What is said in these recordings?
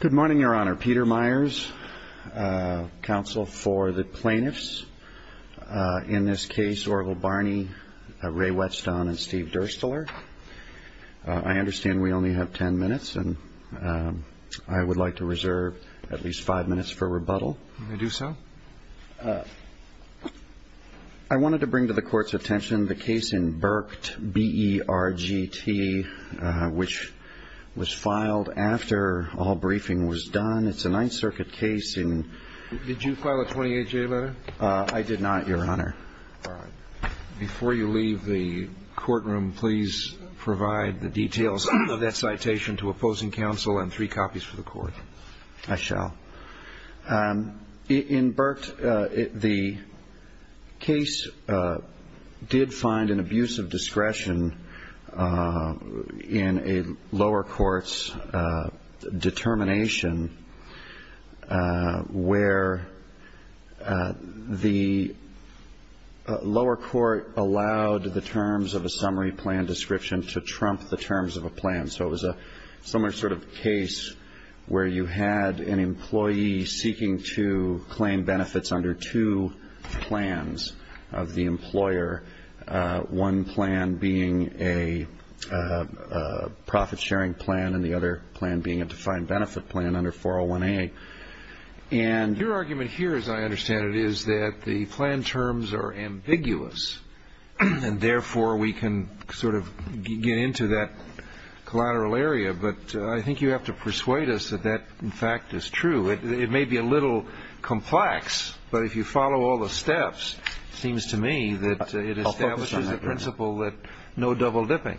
Good morning, Your Honor. Peter Myers, counsel for the plaintiffs. In this case, Orval Barney, Ray Whetston, and Steve Dursteler. I understand we only have ten minutes, and I would like to reserve at least five minutes for rebuttal. Do so. I wanted to bring to the Court's attention the case in Burkett, B-E-R-G-T, which was filed after all briefing was done. It's a Ninth Circuit case in Did you file a 28-J letter? I did not, Your Honor. All right. Before you leave the courtroom, please provide the details of that citation to opposing counsel and three copies for the Court. I shall. In Burkett, the case did find an abuse of discretion in a lower court's determination where the lower court allowed the terms of a You had an employee seeking to claim benefits under two plans of the employer, one plan being a profit-sharing plan and the other plan being a defined benefit plan under 401A. Your argument here, as I understand it, is that the plan terms are ambiguous, and therefore we can sort of get into that collateral area, but I think you have to persuade us that that, in fact, is true. It may be a little complex, but if you follow all the steps, it seems to me that it establishes the principle that no double-dipping.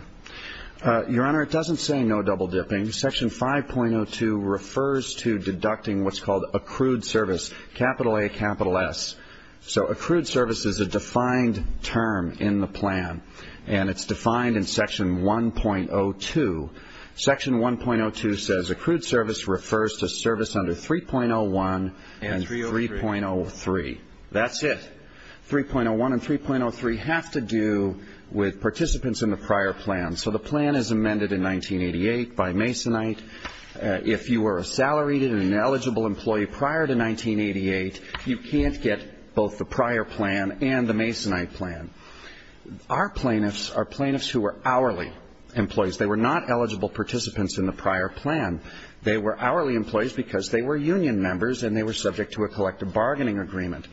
Your Honor, it doesn't say no double-dipping. Section 5.02 refers to deducting what's called accrued service, capital A, capital S. So accrued service is a defined term in the plan, and it's defined in Section 1.02. Section 1.02 says accrued service refers to service under 3.01 and 3.03. That's it. 3.01 and 3.03 have to do with participants in the prior plan. So the plan is amended in 1988 by Masonite. If you were a salaried and eligible employee prior to 1988, you can't get both the prior plan and the Masonite plan. Our plaintiffs are plaintiffs who are hourly employees. They were not eligible participants in the prior plan. They were hourly employees because they were union members and they were subject to a collective bargaining agreement.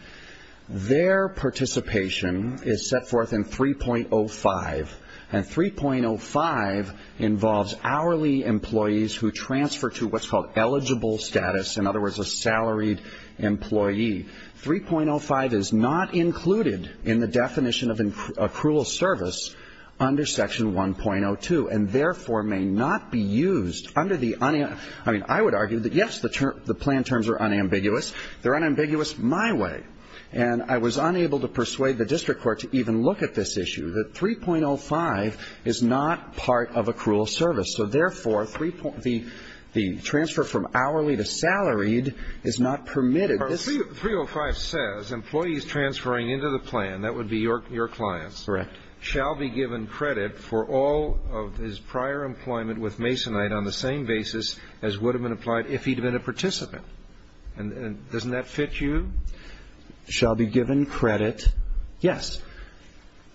Their participation is set forth in 3.05, and 3.05 involves hourly employees who transfer to what's called eligible status, in other words, a salaried employee. 3.05 is not included in the definition of accrued service under Section 1.02 and therefore may not be used under the unambiguous. I mean, I would argue that, yes, the plan terms are unambiguous. They're unambiguous my way. And I was unable to persuade the district court to even look at this issue, that 3.05 is not part of accrued service. So therefore, the transfer from hourly to salaried is not permitted. 3.05 says employees transferring into the plan, that would be your clients. Correct. Shall be given credit for all of his prior employment with Masonite on the same basis as would have been applied if he'd been a participant. And doesn't that fit you? Shall be given credit, yes.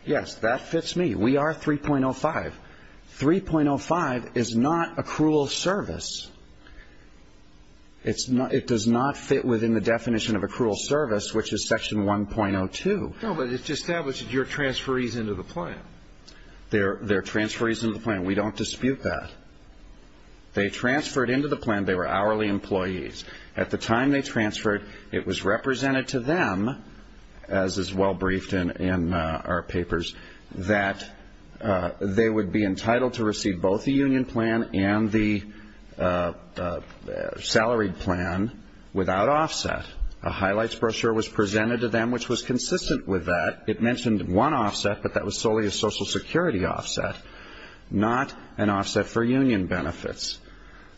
Yes, that fits me. We are 3.05. 3.05 is not accrued service. It does not fit within the definition of accrued service, which is Section 1.02. No, but it just establishes your transferees into the plan. They're transferees into the plan. We don't dispute that. They transferred into the plan. They were hourly employees. At the time they transferred, it was represented to them, as is well briefed in our papers, that they would be entitled to receive both the union plan and the salaried plan without offset. A highlights brochure was presented to them, which was consistent with that. It mentioned one offset, but that was solely a Social Security offset, not an offset for union benefits.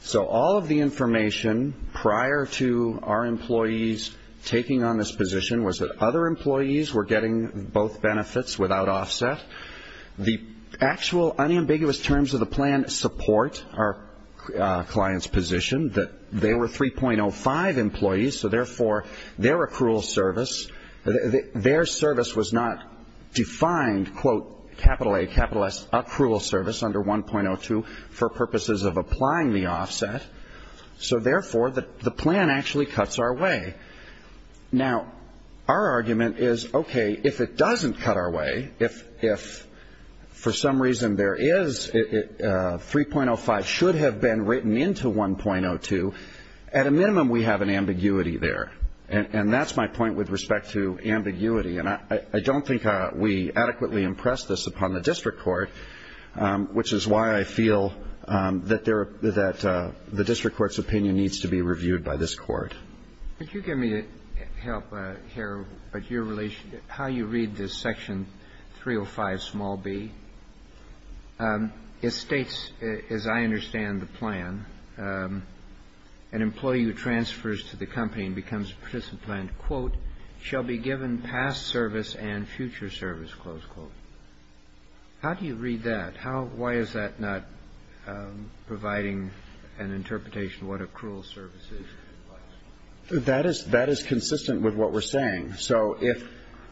So all of the information prior to our employees taking on this position was that other employees were getting both benefits without offset. The actual unambiguous terms of the plan support our client's position that they were 3.05 employees, so therefore their accrued service, their service was not defined, quote, capital A, capital S, accrual service under 1.02 for purposes of applying the offset. So therefore, the plan actually cuts our way. Now, our argument is, okay, if it doesn't cut our way, if for some reason there is 3.05 should have been written into 1.02, at a minimum we have an ambiguity there, and that's my point with respect to ambiguity. And I don't think we adequately impress this upon the district court, which is why I feel that the district court's opinion needs to be reviewed by this court. Could you get me to help here with your relation to how you read this Section 305 small b? It states, as I understand the plan, an employee who transfers to the company and becomes a participant, quote, shall be given past service and future service, close quote. How do you read that? Why is that not providing an interpretation of what accrual service is? That is consistent with what we're saying. So if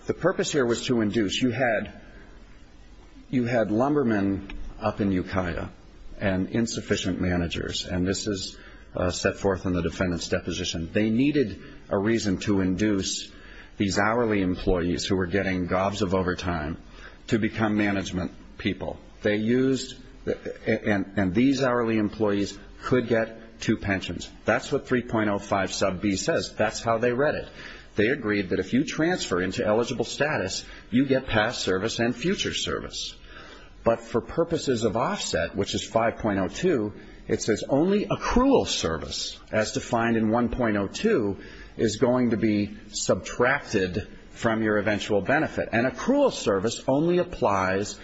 the purpose here was to induce, you had lumbermen up in Ukiah and insufficient managers, and this is set forth in the defendant's deposition. They needed a reason to induce these hourly employees who were getting gobs of overtime to become management people. They used, and these hourly employees could get two pensions. That's what 3.05 sub b says. That's how they read it. They agreed that if you transfer into eligible status, you get past service and future service. But for purposes of offset, which is 5.02, it says only accrual service, as defined in 1.02, is going to be subtracted from your eventual benefit. And accrual service only applies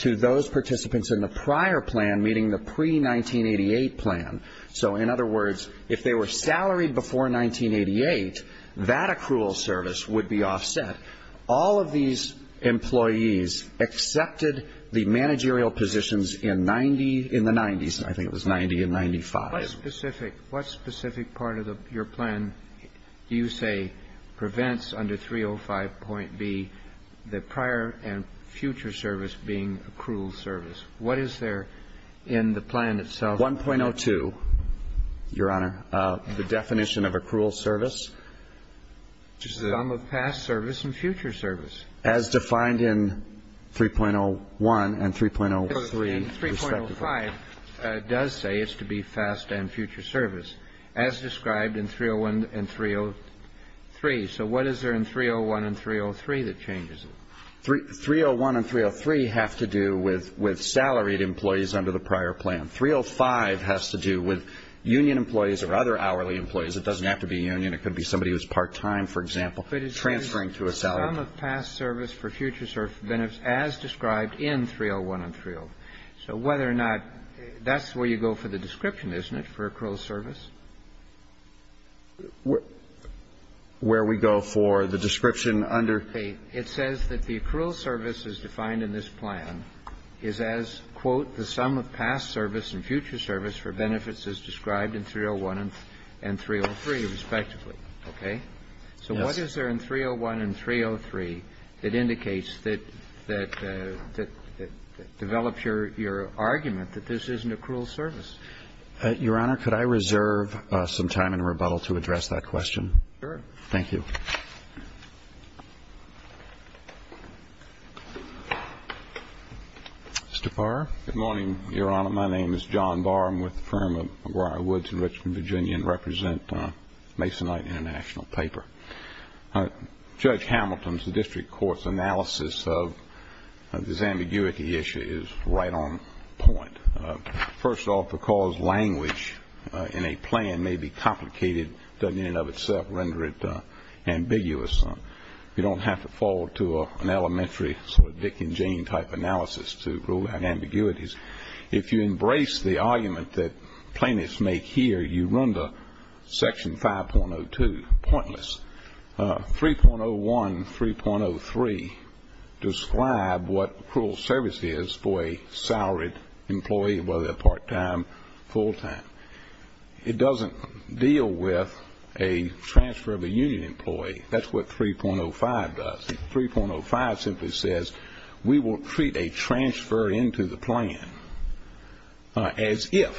to those participants in the prior plan, meaning the pre-1988 plan. So in other words, if they were salaried before 1988, that accrual service would be offset. All of these employees accepted the managerial positions in the 90s. I think it was 90 and 95. What specific part of your plan do you say prevents under 3.05.B the prior and future service being accrual service? What is there in the plan itself? 1.02, Your Honor, the definition of accrual service. The sum of past service and future service. As defined in 3.01 and 3.03 respectively. 3.05 does say it's to be past and future service, as described in 3.01 and 3.03. So what is there in 3.01 and 3.03 that changes it? 3.01 and 3.03 have to do with salaried employees under the prior plan. 3.05 has to do with union employees or other hourly employees. It doesn't have to be union. It could be somebody who's part-time, for example, transferring to a salaried position. The sum of past service for future service benefits as described in 3.01 and 3.03. So whether or not that's where you go for the description, isn't it, for accrual service? Where we go for the description under? It says that the accrual service as defined in this plan is as, quote, the sum of past service and future service for benefits as described in 3.01 and 3.03 respectively. Okay? Yes. So what is there in 3.01 and 3.03 that indicates that develops your argument that this isn't accrual service? Your Honor, could I reserve some time in rebuttal to address that question? Sure. Thank you. Mr. Barr. Good morning, Your Honor. My name is John Barr. I'm with the firm of McGuire Woods in Richmond, Virginia, and represent Masonite International Paper. Judge Hamilton's district court's analysis of this ambiguity issue is right on point. First off, the cause language in a plan may be complicated, doesn't in and of itself render it ambiguous. You don't have to fall to an elementary sort of Dick and Jane type analysis to rule out ambiguities. If you embrace the argument that plaintiffs make here, you run to Section 5.02, pointless. 3.01 and 3.03 describe what accrual service is for a salaried employee, whether they're part-time, full-time. It doesn't deal with a transfer of a union employee. That's what 3.05 does. 3.05 simply says we will treat a transfer into the plan as if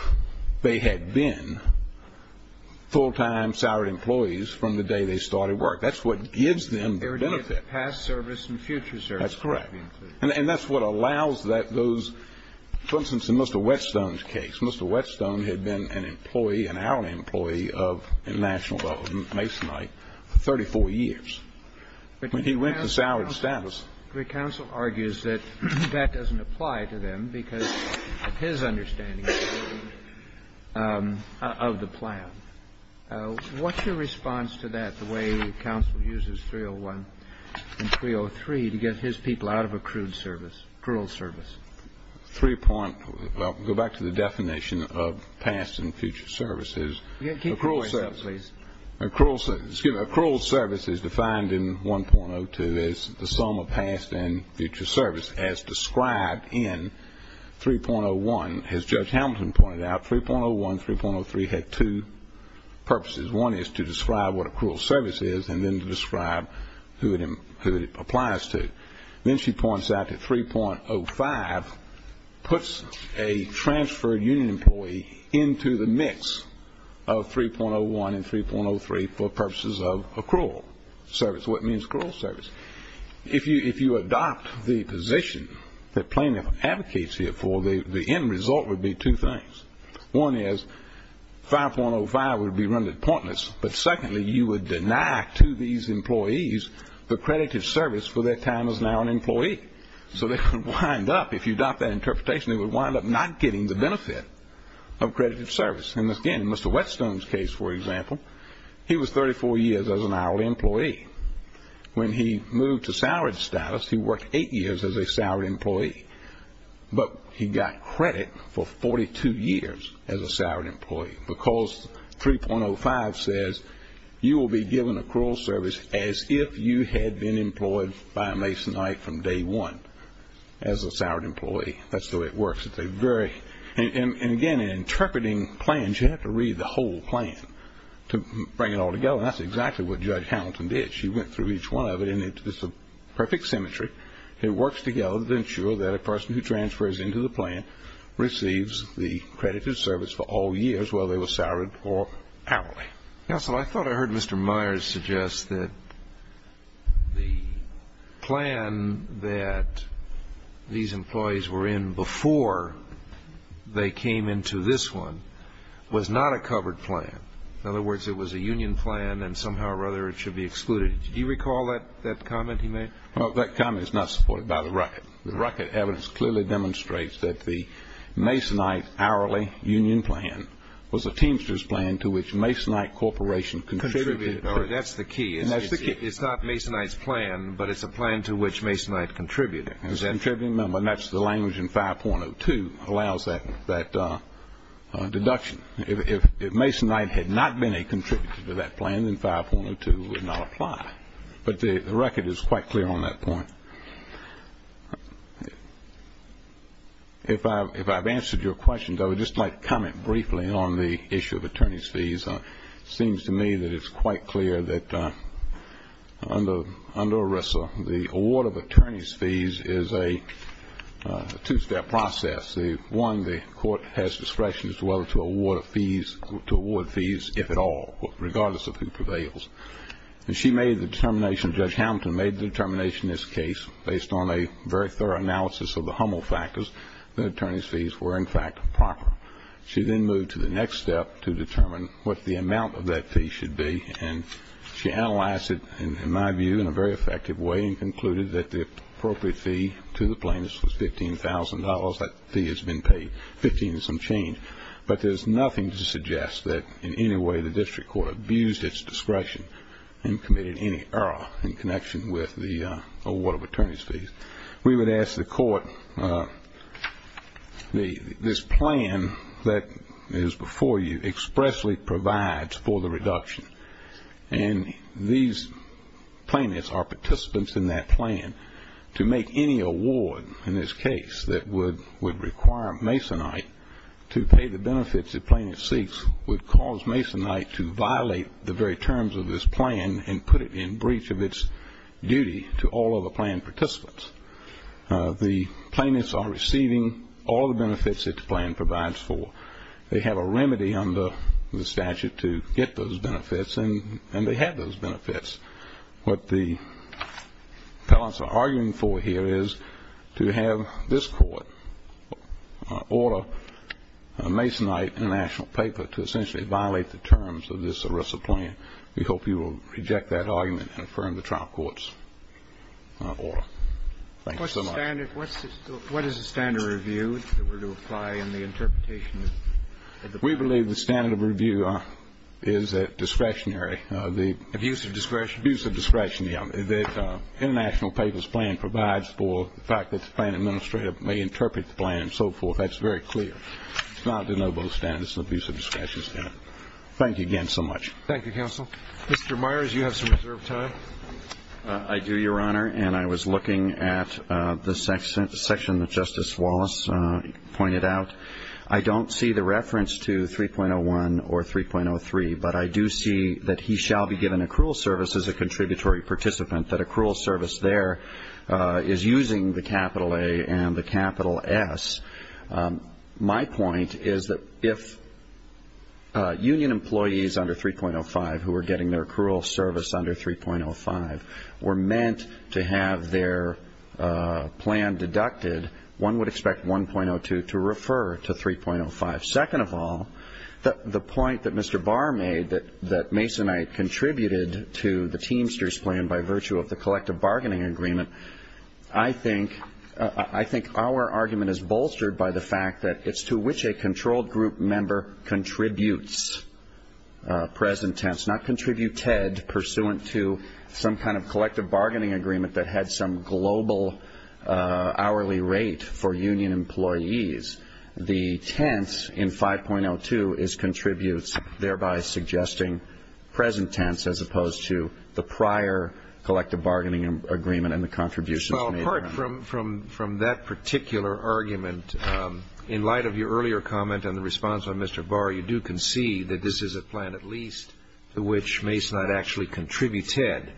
they had been full-time salaried employees from the day they started work. That's what gives them the benefit. They were doing past service and future service. That's correct. And that's what allows that those, for instance, in Mr. Whetstone's case, Mr. Whetstone had been an employee, an hourly employee of Masonite for 34 years. When he went to salaried status. Counsel argues that that doesn't apply to them because of his understanding of the plan. What's your response to that, the way counsel uses 3.01 and 3.03 to get his people out of accrued service, accrual service? Well, go back to the definition of past and future services. Keep going, please. Excuse me. Accrual service is defined in 1.02 as the sum of past and future service as described in 3.01. As Judge Hamilton pointed out, 3.01, 3.03 had two purposes. One is to describe what accrual service is and then to describe who it applies to. Then she points out that 3.05 puts a transferred union employee into the mix of 3.01 and 3.03 for purposes of accrual service, what means accrual service. If you adopt the position that plaintiff advocates here for, the end result would be two things. One is 5.05 would be rendered pointless. But secondly, you would deny to these employees the credit of service for their time as an hourly employee. So they could wind up, if you adopt that interpretation, they would wind up not getting the benefit of credit of service. And again, in Mr. Whetstone's case, for example, he was 34 years as an hourly employee. When he moved to salaried status, he worked eight years as a salaried employee, but he got credit for 42 years as a salaried employee because 3.05 says you will be given accrual service as if you had been employed by a Masonite from day one as a salaried employee. That's the way it works. And again, in interpreting plans, you have to read the whole plan to bring it all together. And that's exactly what Judge Hamilton did. She went through each one of it, and it's a perfect symmetry. It works together to ensure that a person who transfers into the plan receives the credit of service for all years, whether they were salaried or hourly. Counsel, I thought I heard Mr. Myers suggest that the plan that these employees were in before they came into this one was not a covered plan. In other words, it was a union plan, and somehow or other it should be excluded. Did you recall that comment he made? Well, that comment is not supported by the record. The record evidence clearly demonstrates that the Masonite hourly union plan was a Teamsters plan to which Masonite Corporation contributed. That's the key. It's not Masonite's plan, but it's a plan to which Masonite contributed. And that's the language in 5.02 that allows that deduction. If Masonite had not been a contributor to that plan, then 5.02 would not apply. But the record is quite clear on that point. If I've answered your question, I would just like to comment briefly on the issue of attorney's fees. It seems to me that it's quite clear that under ERISA, the award of attorney's fees is a two-step process. One, the court has discretion as to whether to award fees, if at all, regardless of who prevails. And she made the determination, Judge Hamilton made the determination in this case, based on a very thorough analysis of the Hummel factors, that attorney's fees were, in fact, proper. She then moved to the next step to determine what the amount of that fee should be, and she analyzed it, in my view, in a very effective way and concluded that the appropriate fee to the plaintiffs was $15,000. That fee has been paid. Fifteen is some change. But there's nothing to suggest that in any way the district court abused its discretion and committed any error in connection with the award of attorney's fees. We would ask the court, this plan that is before you expressly provides for the reduction, and these plaintiffs are participants in that plan, to make any award in this case that would require Masonite to pay the benefits the plaintiff seeks would cause Masonite to violate the very terms of this plan and put it in breach of its duty to all other plan participants. The plaintiffs are receiving all the benefits that the plan provides for. They have a remedy under the statute to get those benefits, and they have those benefits. What the appellants are arguing for here is to have this court order Masonite International Paper to essentially violate the terms of this ERISA plan. We hope you will reject that argument and affirm the trial court's order. Thank you so much. What is the standard review that were to apply in the interpretation of the plan? We believe the standard review is that discretionary. Abuse of discretion? Abuse of discretion, yes. International Papers plan provides for the fact that the plan administrator may interpret the plan and so forth. That's very clear. It's not the no-vote standard. It's the abuse of discretion standard. Thank you again so much. Thank you, counsel. Mr. Myers, you have some reserved time. I do, Your Honor, and I was looking at the section that Justice Wallace pointed out. I don't see the reference to 3.01 or 3.03, but I do see that he shall be given accrual service as a contributory participant, that accrual service there is using the capital A and the capital S. My point is that if union employees under 3.05 who are getting their accrual service under 3.05 were meant to have their plan deducted, one would expect 1.02 to refer to 3.05. Second of all, the point that Mr. Barr made that Masonite contributed to the Teamsters plan by virtue of the collective bargaining agreement, I think our argument is bolstered by the fact that it's to which a controlled group member contributes, present tense, not contributed pursuant to some kind of collective bargaining agreement that had some global hourly rate for union employees. The tense in 5.02 is contributes, thereby suggesting present tense as opposed to the prior collective bargaining agreement and the contributions. Well, apart from that particular argument, in light of your earlier comment and the response of Mr. Barr, you do concede that this is a plan at least to which Masonite actually contributed.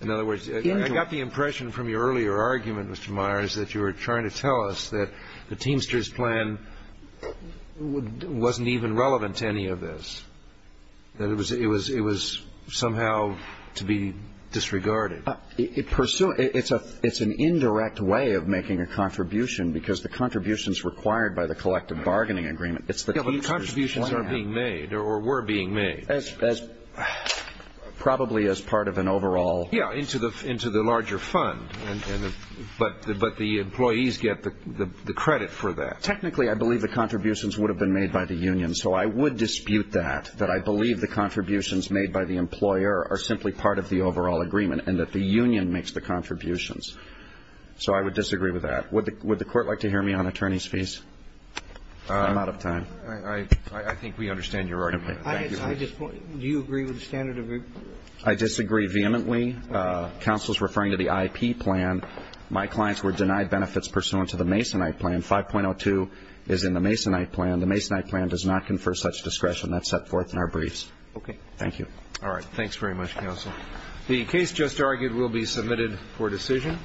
In other words, I got the impression from your earlier argument, Mr. Myers, that you were trying to tell us that the Teamsters plan wasn't even relevant to any of this, that it was somehow to be disregarded. It's an indirect way of making a contribution because the contribution is required by the collective bargaining agreement. Yeah, but the contributions are being made or were being made. Probably as part of an overall. Yeah, into the larger fund, but the employees get the credit for that. Technically, I believe the contributions would have been made by the union, so I would dispute that, that I believe the contributions made by the employer are simply part of the overall agreement and that the union makes the contributions. So I would disagree with that. Would the Court like to hear me on attorney's fees? I'm out of time. I think we understand your argument. Thank you. Do you agree with the standard agreement? I disagree vehemently. Counsel is referring to the IP plan. My clients were denied benefits pursuant to the Masonite plan. 5.02 is in the Masonite plan. The Masonite plan does not confer such discretion. That's set forth in our briefs. Okay. Thank you. All right. Thanks very much, counsel. The case just argued will be submitted for decision.